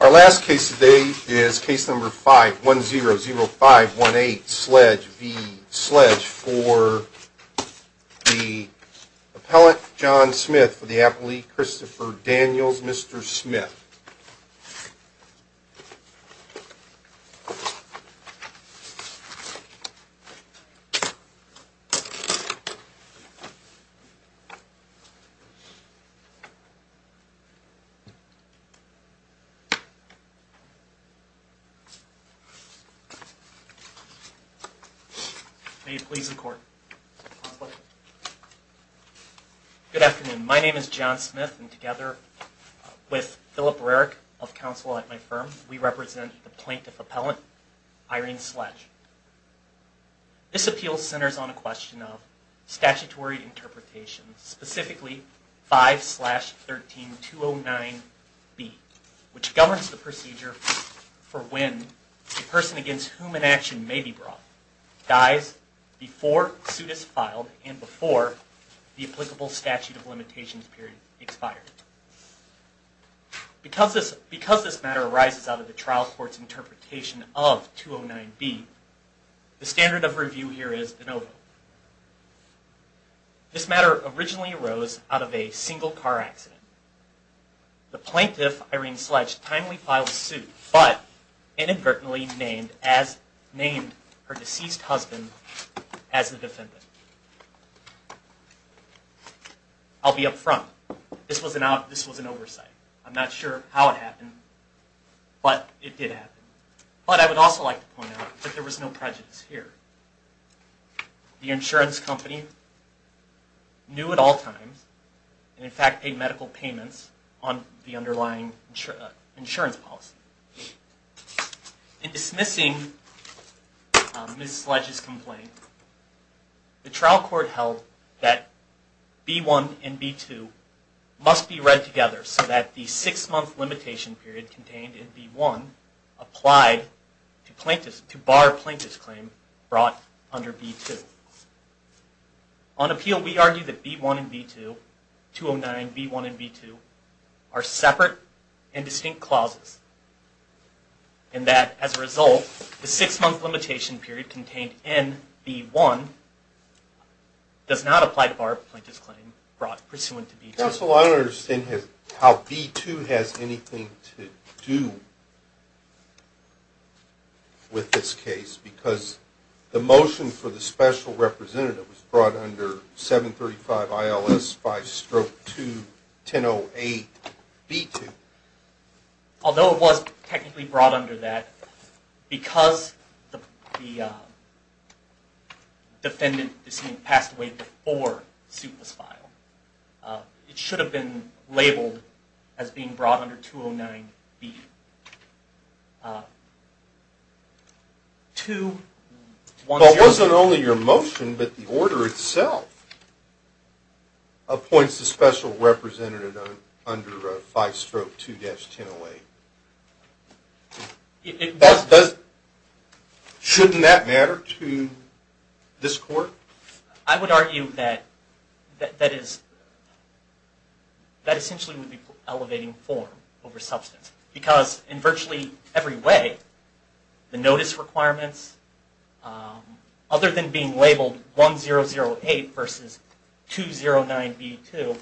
Our last case today is case number 5100518 Sledge v. Sledge for the Appellant John Smith for the Appellee Christopher Daniels, Mr. Smith. May it please the Court. Good afternoon. My name is John Smith, and together with Philip Rarick of counsel at my firm, we represent the Plaintiff Appellant Irene Sledge. This appeal centers on a question of statutory interpretation, specifically 5-13-209b, which governs the procedure for when a person against whom an action may be brought dies before suit is filed and before the applicable statute of limitations period expires. Because this matter arises out of the trial court's interpretation of 209b, the standard of review here is de novo. This matter originally arose out of a single car accident. The Plaintiff, Irene Sledge, timely filed suit, but inadvertently named her deceased husband as the defendant. I'll be up front. This was an oversight. I'm not sure how it happened, but it did happen. But I would also like to point out that there was no prejudice here. The insurance company knew at all times, and in fact paid medical payments on the underlying insurance policy. In dismissing Ms. Sledge's complaint, the trial court held that B-1 and B-2 must be read together so that the six month limitation period contained in B-1 applied to bar a plaintiff's claim brought under B-2. On appeal, we argue that B-1 and B-2, 209b-1 and 209b-2, are separate and distinct clauses, and that as a result, the six month limitation period contained in B-1 does not apply to bar a plaintiff's claim brought pursuant to B-2. Counsel, I don't understand how B-2 has anything to do with this case, because the motion for the special representative was brought under 735 ILS 5 Stroke 2108 B-2. Although it was technically brought under that, because the defendant is being passed away before suit was filed, it should have been labeled as being brought under 209b-2. It wasn't only your motion, but the order itself appoints the special representative under 5 Stroke 2108. Shouldn't that matter to this court? I would argue that that essentially would be elevating form over substance, because in virtually every way, the notice requirements, other than being labeled 1008 versus 209b-2,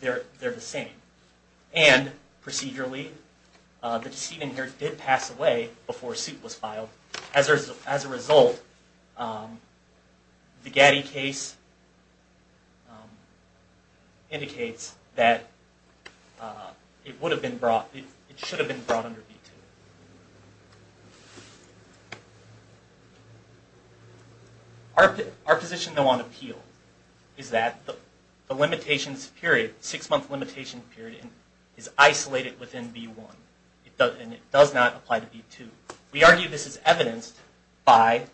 they're the same. And procedurally, the decedent here did pass away before suit was filed. As a result, the Gatti case indicates that it should have been brought under B-2. Our position, though, on appeal is that the six-month limitation period is isolated within B-1, and it does not apply to B-2. We argue this is evidenced by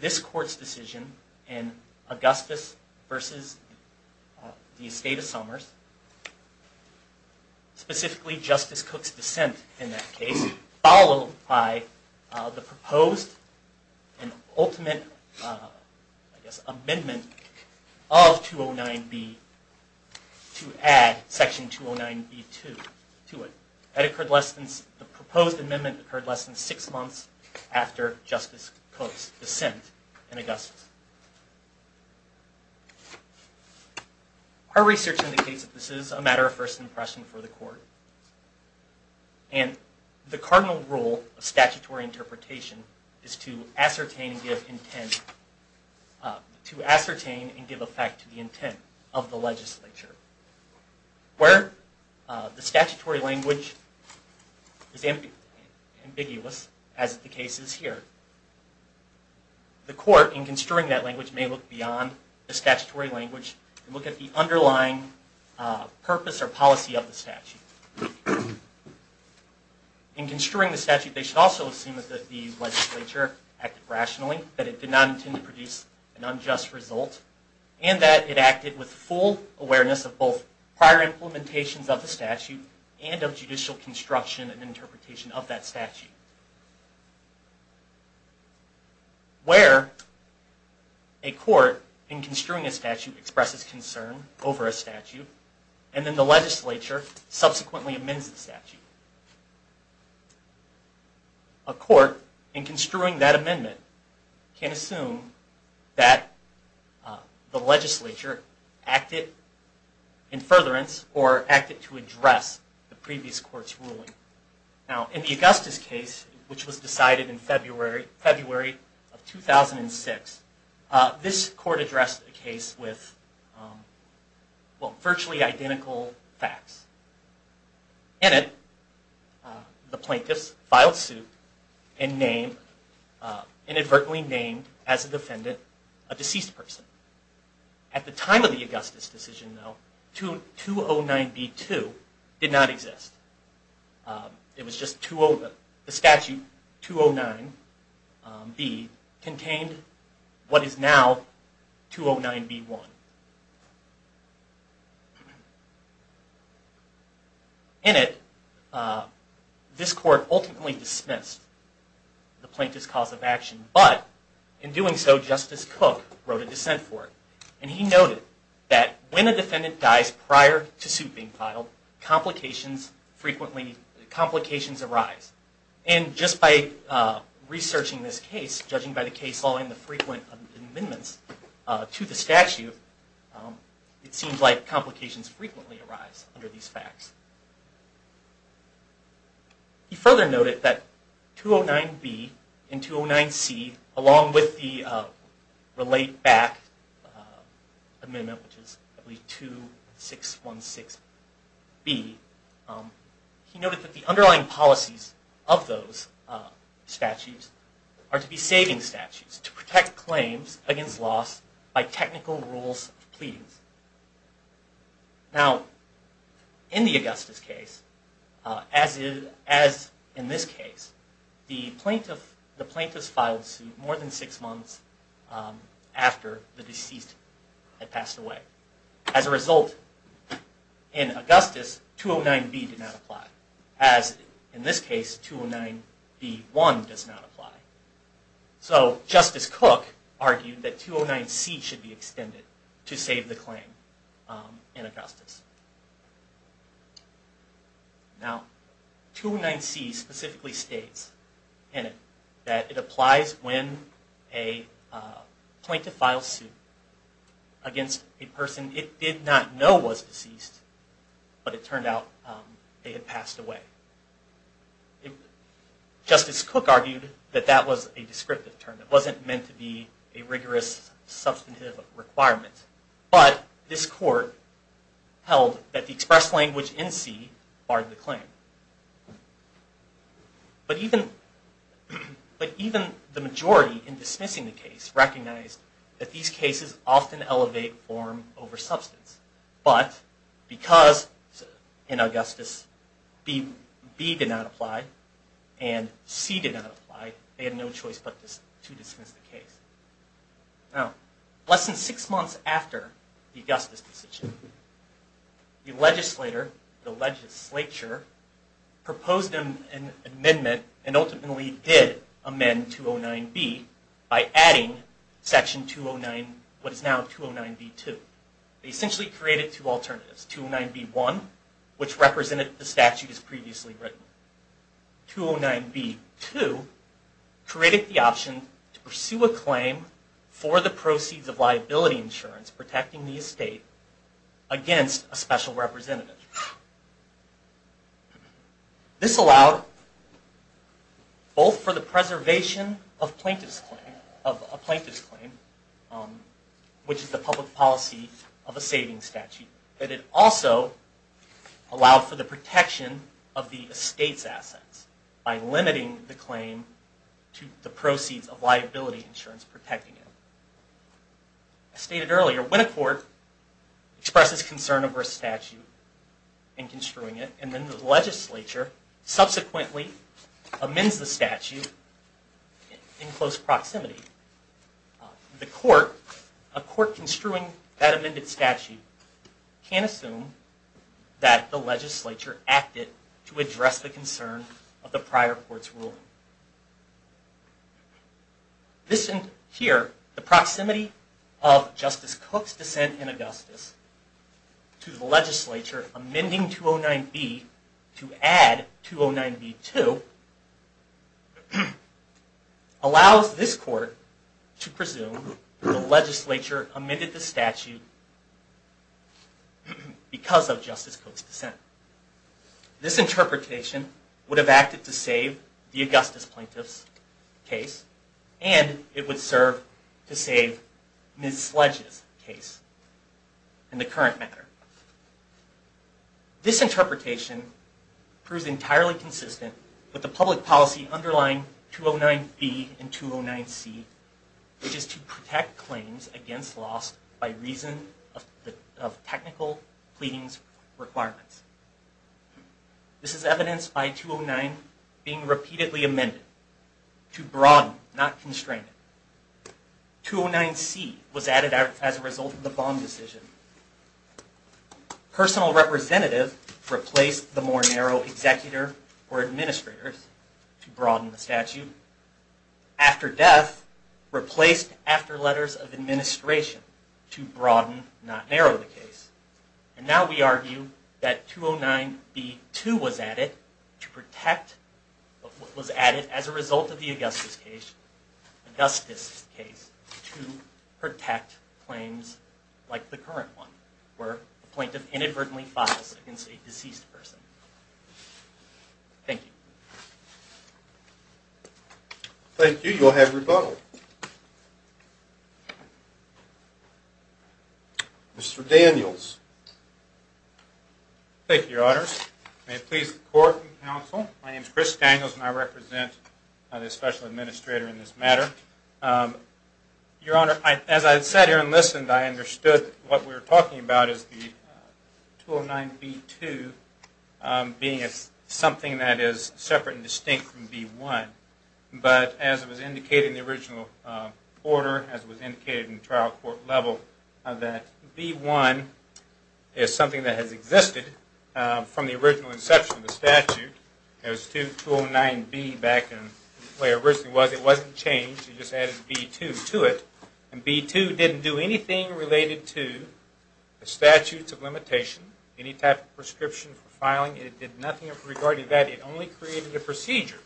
this court's decision in Augustus v. The Estate of Somers, specifically Justice Cook's dissent in that case, followed by the proposed and ultimate amendment of 209b to add section 209b-2 to it. The proposed amendment occurred less than six months after Justice Cook's dissent in Augustus. Our research indicates that this is a matter of first impression for the court, and the cardinal rule of statutory interpretation is to ascertain and give effect to the intent of the legislature. Where the statutory language is ambiguous, as the case is here, the court, in construing that language, may look beyond the statutory language and look at the underlying purpose or policy of the statute. In construing the statute, they should also assume that the legislature acted rationally, that it did not intend to produce an unjust result, and that it acted with full awareness of both prior implementations of the statute and of judicial construction and interpretation of that statute. Where a court, in construing a statute, expresses concern over a statute, and then the legislature subsequently amends the statute, a court, in construing that amendment, can assume that the legislature acted in furtherance or acted to address the previous court's ruling. In the Augustus case, which was decided in February of 2006, this court addressed a case with virtually identical facts. In it, the plaintiffs filed suit and inadvertently named, as a defendant, a deceased person. At the time of the Augustus decision, though, 209b-2 did not exist. The statute 209b contained what is now 209b-1. In it, this court ultimately dismissed the plaintiff's cause of action, but in doing so, Justice Cook wrote a dissent for it. And he noted that when a defendant dies prior to suit being filed, complications arise. And just by researching this case, judging by the case law and the frequent amendments to the statute, it seems like complications frequently arise under these facts. He further noted that 209b and 209c, along with the relate-back amendment, which is 2616b, he noted that the underlying policies of those statutes are to be saving statutes, to protect claims against loss by technical rules of pleadings. Now, in the Augustus case, as in this case, the plaintiffs filed suit more than six months after the deceased had passed away. As a result, in Augustus, 209b did not apply, as in this case, 209b-1 does not apply. So Justice Cook argued that 209c should be extended to save the claim in Augustus. Now, 209c specifically states in it that it applies when a plaintiff files suit against a person it did not know was deceased, but it turned out they had passed away. Justice Cook argued that that was a descriptive term. It wasn't meant to be a rigorous substantive requirement. But this court held that the expressed language in 209c barred the claim. But even the majority in dismissing the case recognized that these cases often elevate form over substance. But because, in Augustus, 209b did not apply and 209c did not apply, they had no choice but to dismiss the case. Now, less than six months after the Augustus decision, the legislator, the legislature, proposed an amendment and ultimately did amend 209b by adding section 209, what is now 209b-2. They essentially created two alternatives. 209b-1, which represented the statute as previously written. 209b-2 created the option to pursue a claim for the proceeds of liability insurance protecting the estate against a special representative. This allowed both for the preservation of a plaintiff's claim, which is the public policy of a savings statute, but it also allowed for the protection of the estate's assets by limiting the claim to the proceeds of liability insurance protecting it. As stated earlier, when a court expresses concern over a statute and construing it, and then the legislature subsequently amends the statute in close proximity, a court construing that amended statute can assume that the legislature acted to address the concern of the prior court's ruling. Here, the proximity of Justice Cook's dissent in Augustus to the legislature amending 209b to add 209b-2 allows this court to presume that the legislature amended the statute because of Justice Cook's dissent. This interpretation would have acted to save the Augustus plaintiff's case and it would serve to save Ms. Sledge's case in the current matter. This interpretation proves entirely consistent with the public policy underlying 209b and 209c, which is to protect claims against loss by reason of technical pleadings requirements. This is evidenced by 209 being repeatedly amended to broaden, not constrain it. 209c was added as a result of the Baum decision. Personal representative replaced the more narrow executor or administrators to broaden the statute. After death, replaced after letters of administration to broaden, not narrow the case. And now we argue that 209b-2 was added as a result of the Augustus case to protect claims like the current one, where a plaintiff inadvertently files against a deceased person. Thank you. Thank you. You'll have rebuttal. Mr. Daniels. Thank you, Your Honor. May it please the court and counsel, my name is Chris Daniels and I represent the special administrator in this matter. Your Honor, as I sat here and listened, I understood what we were talking about as the 209b-2 being something that is separate and distinct from b-1. But as it was indicated in the original order, as it was indicated in the trial court level, that b-1 is something that has existed from the original inception of the statute. As 209b back in the way it originally was, it wasn't changed, it just added b-2 to it. And b-2 didn't do anything related to the statutes of limitation, any type of prescription for filing. It did nothing regarding that, it only created a procedure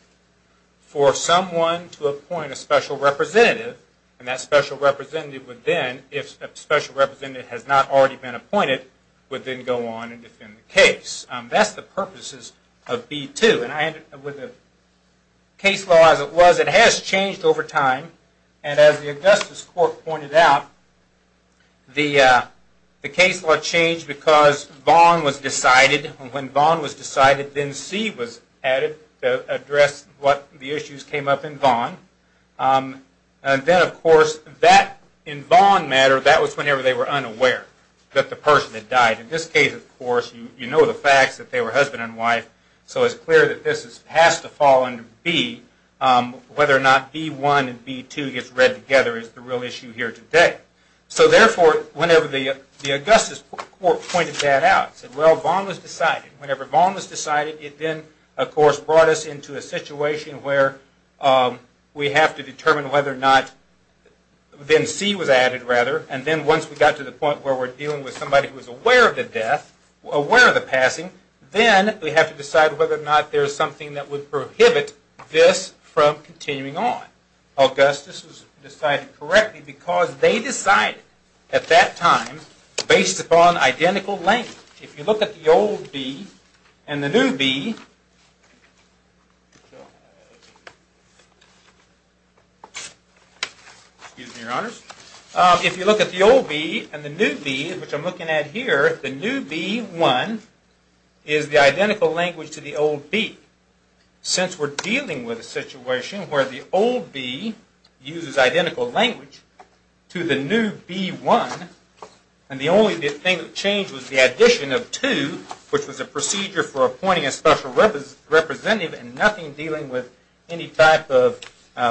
for someone to appoint a special representative and that special representative would then, if a special representative has not already been appointed, would then go on and defend the case. That's the purposes of b-2. With the case law as it was, it has changed over time. And as the Augustus Court pointed out, the case law changed because Vaughn was decided. When Vaughn was decided, then C was added to address what the issues came up in Vaughn. And then of course, that in Vaughn matter, that was whenever they were unaware that the person had died. In this case, of course, you know the facts that they were husband and wife, so it's clear that this has to fall under b. Whether or not b-1 and b-2 gets read together is the real issue here today. So therefore, whenever the Augustus Court pointed that out, said well, Vaughn was decided. Whenever Vaughn was decided, it then of course brought us into a situation where we have to determine whether or not, then C was added rather. And then once we got to the point where we're dealing with somebody who was aware of the death, aware of the passing, then we have to decide whether or not there's something that would prohibit this from continuing on. Augustus was decided correctly because they decided at that time based upon identical length. If you look at the old b and the new b, which I'm looking at here, the new b-1 is the identical language to the old b. Since we're dealing with a situation where the old b uses identical language to the new b-1, and the only thing that changed was the addition of 2, which was a procedure for appointing a special representative and nothing dealing with any type of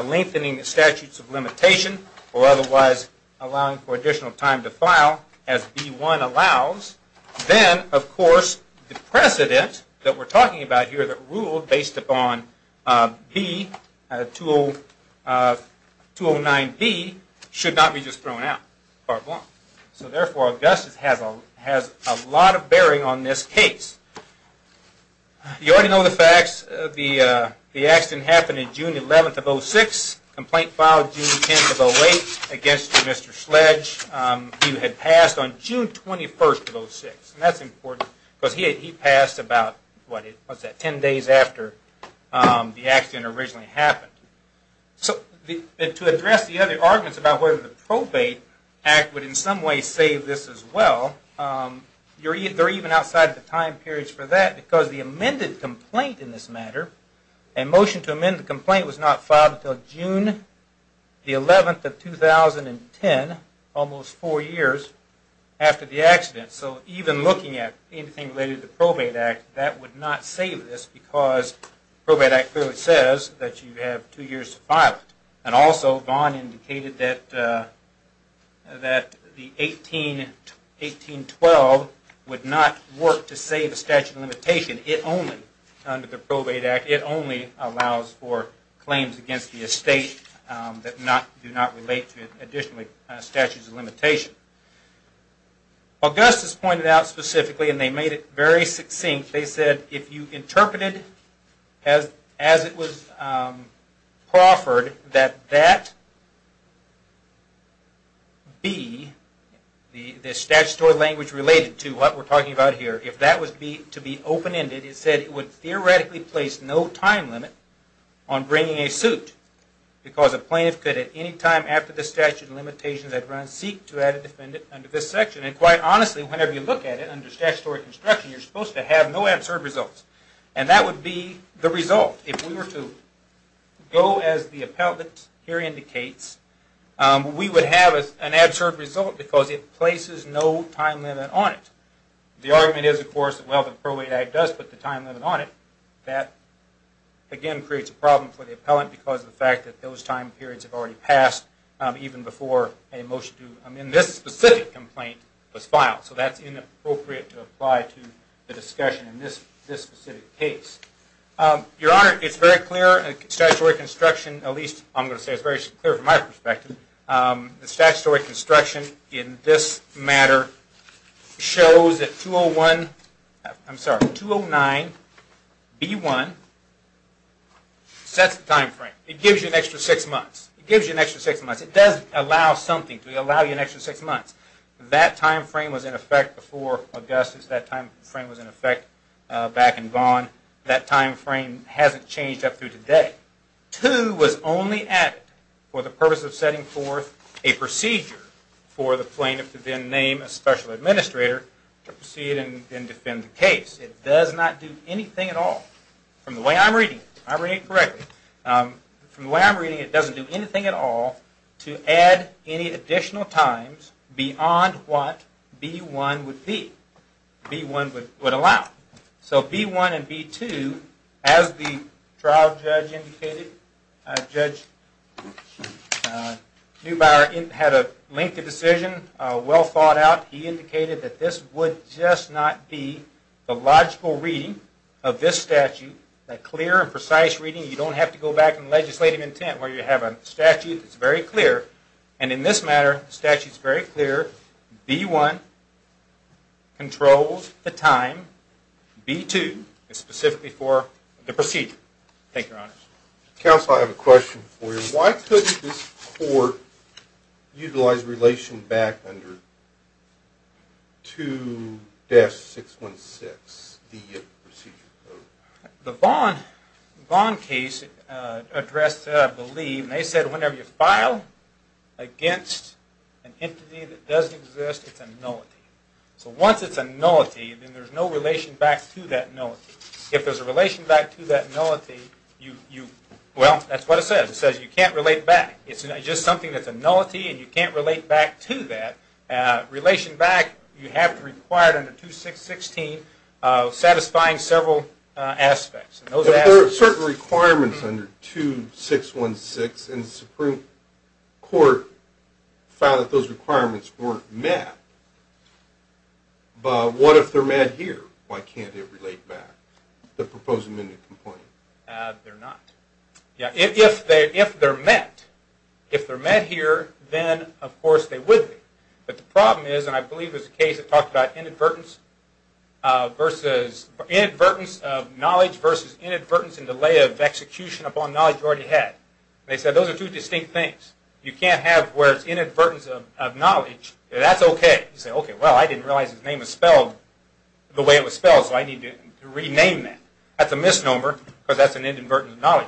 lengthening the statutes of limitation or otherwise allowing for additional time to file as b-1 allows, then of course the precedent that we're talking about here that ruled based upon b, 209b, should not be just thrown out. So therefore, Augustus has a lot of bearing on this case. You already know the facts. The accident happened on June 11th of 06, complaint filed June 10th of 08 against Mr. Sledge. He had passed on June 21st of 06, and that's important because he passed about 10 days after the accident originally happened. So to address the other arguments about whether the probate act would in some way save this as well, they're even outside the time periods for that because the amended complaint in this matter, a motion to amend the complaint was not filed until June 11th of 2010, almost 4 years after the accident. So even looking at anything related to the probate act, that would not save this because probate act clearly says that you have 2 years to file it. And also Vaughn indicated that the 1812 would not work to save a statute of limitation. It only, under the probate act, it only allows for claims against the estate that do not relate to additional statutes of limitation. Augustus pointed out specifically, and they made it very succinct, they said if you interpreted as it was proffered that that be, the statutory language related to what we're talking about here, if that was to be open-ended, it said it would theoretically place no time limit on bringing a suit because a plaintiff could at any time after the statute of limitations had run, seek to add a defendant under this section. And quite honestly, whenever you look at it under statutory construction, you're supposed to have no absurd results. And that would be the result. If we were to go as the appellant here indicates, we would have an absurd result because it places no time limit on it. The argument is of course that while the probate act does put the time limit on it, that again creates a problem for the appellant because of the fact that those time periods have already passed even before a motion to, in this specific complaint, was filed. So that's inappropriate to apply to the discussion in this specific case. Your Honor, it's very clear, statutory construction, at least I'm going to say it's very clear from my perspective, the statutory construction in this matter shows that 209B1 sets the time frame. It gives you an extra six months. It gives you an extra six months. It does allow something to allow you an extra six months. That time frame was in effect before Augustus. That time frame was in effect back in Vaughan. That time frame hasn't changed up through today. Two was only added for the purpose of setting forth a procedure for the plaintiff to then name a special administrator to proceed and defend the case. It does not do anything at all. From the way I'm reading it, if I'm reading it correctly, from the way I'm reading it, it doesn't do anything at all to add any additional times beyond what B1 would be, B1 would allow. So B1 and B2, as the trial judge indicated, Judge Neubauer had a lengthy decision, well thought out. He indicated that this would just not be a logical reading of this statute, a clear and precise reading. You don't have to go back in legislative intent where you have a statute that's very clear. And in this matter, the statute's very clear. B1 controls the time. B2 is specifically for the procedure. Thank you, Your Honors. Counsel, I have a question for you. Why couldn't this court utilize relation back under 2-616, the procedure code? The Vaughn case addressed that, I believe, and they said whenever you file against an entity that doesn't exist, it's a nullity. So once it's a nullity, then there's no relation back to that nullity. If there's a relation back to that nullity, you, well, that's what it says. It says you can't relate back. It's just something that's a nullity and you can't relate back to that. Relation back, you have to require it under 2-616, satisfying several aspects. If there are certain requirements under 2-616 and the Supreme Court found that those requirements weren't met, what if they're met here? Why can't it relate back, the proposed amended complaint? They're not. If they're met, if they're met here, then, of course, they would be. But the problem is, and I believe there's a case that talked about inadvertence of knowledge versus inadvertence and delay of execution upon knowledge you already had. They said those are two distinct things. You can't have where it's inadvertence of knowledge, that's okay. You say, okay, well, I didn't realize his name was spelled the way it was spelled, so I need to rename that. That's a misnomer because that's an inadvertence of knowledge.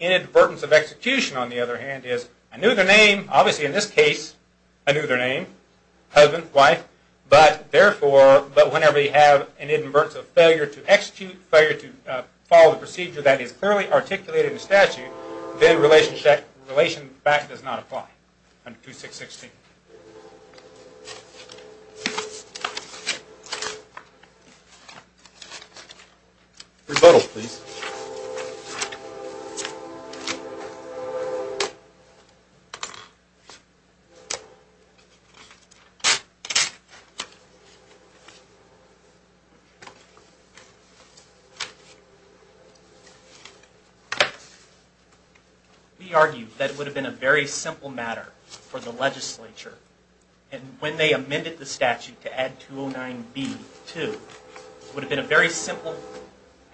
Inadvertence of execution, on the other hand, is I knew their name. Obviously, in this case, I knew their name, husband, wife. But, therefore, whenever you have an inadvertence of failure to execute, failure to follow the procedure that is clearly articulated in the statute, then relation back does not apply under 2-616. The title, please. We argue that it would have been a very simple matter for the legislature, and when they amended the statute to add 209B to, it would have been a very simple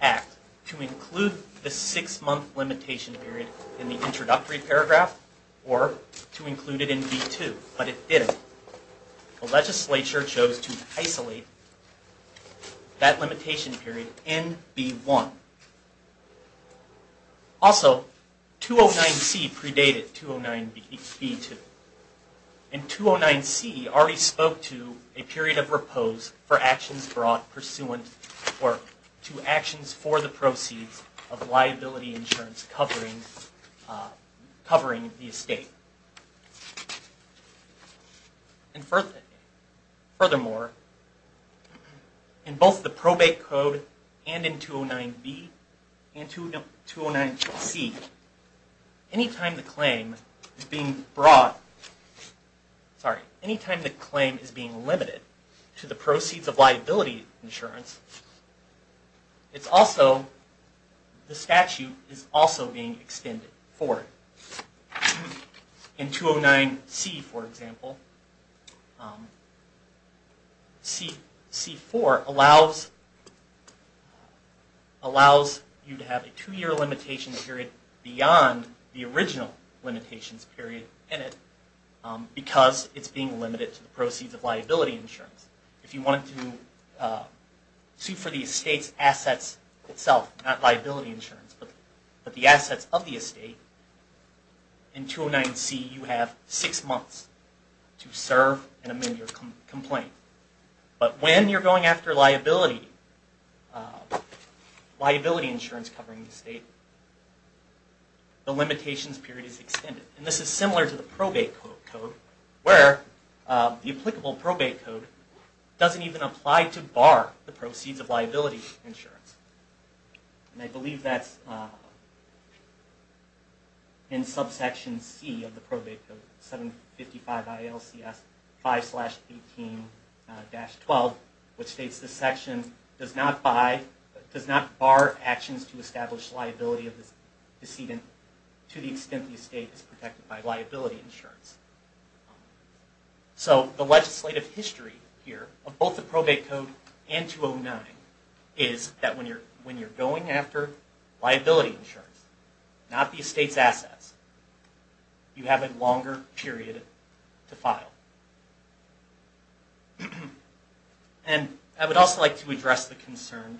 act to include the six-month limitation period in the introductory paragraph or to include it in B-2, but it didn't. The legislature chose to isolate that limitation period in B-1. Also, 209C predated 209B-2. And 209C already spoke to a period of repose for actions brought pursuant to actions for the proceeds of liability insurance covering the estate. And furthermore, in both the probate code and in 209B and 209C, anytime the claim is being brought, sorry, anytime the claim is being limited to the proceeds of liability insurance, it's also, the statute is also being extended for it. In 209C, for example, C-4 allows you to have a two-year limitation period beyond the original limitations period in it, because it's being limited to the proceeds of liability insurance. If you wanted to sue for the estate's assets itself, not liability insurance, but the assets of the estate, in 209C you have six months to serve and amend your complaint. But when you're going after liability insurance covering the estate, the limitations period is extended. And this is similar to the probate code, where the applicable probate code doesn't even apply to bar the proceeds of liability insurance. And I believe that's in subsection C of the probate code, 755 ILCS 5-18-12, which states this section does not bar actions to establish liability of the decedent to the extent the estate is protected by liability insurance. So the legislative history here of both the probate code and 209 is that when you're going after liability insurance, not the estate's assets, you have a longer period to file. And I would also like to address the concern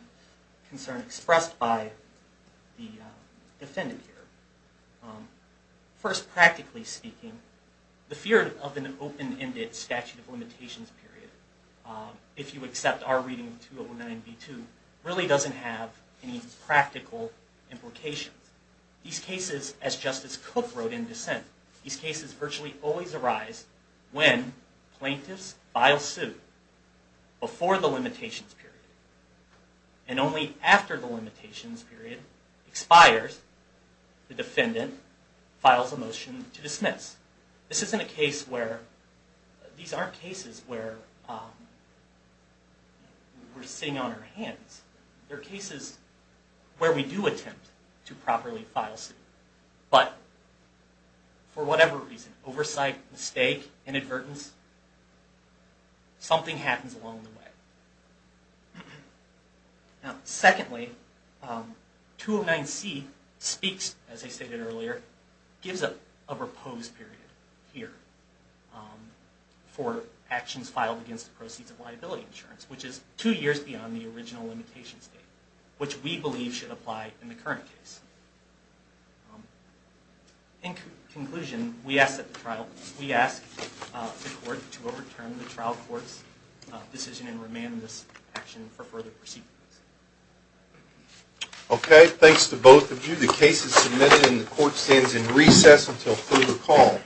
expressed by the defendant here. First, practically speaking, the fear of an open-ended statute of limitations if you accept our reading of 209B-2, really doesn't have any practical implications. These cases, as Justice Cook wrote in dissent, these cases virtually always arise when plaintiffs file suit before the limitations period. And only after the limitations period expires, the defendant files a motion to dismiss. This isn't a case where, these aren't cases where we're sitting on our hands. They're cases where we do attempt to properly file suit, but for whatever reason, oversight, mistake, inadvertence, something happens along the way. Now, secondly, 209C speaks, as I stated earlier, gives a repose period here for actions filed against the proceeds of liability insurance, which is two years beyond the original limitation state, which we believe should apply in the current case. In conclusion, we ask that the trial, we ask the court to overturn the trial court's decision and remand this action for further proceedings. Okay, thanks to both of you. The case is submitted and the court stands in recess until further call.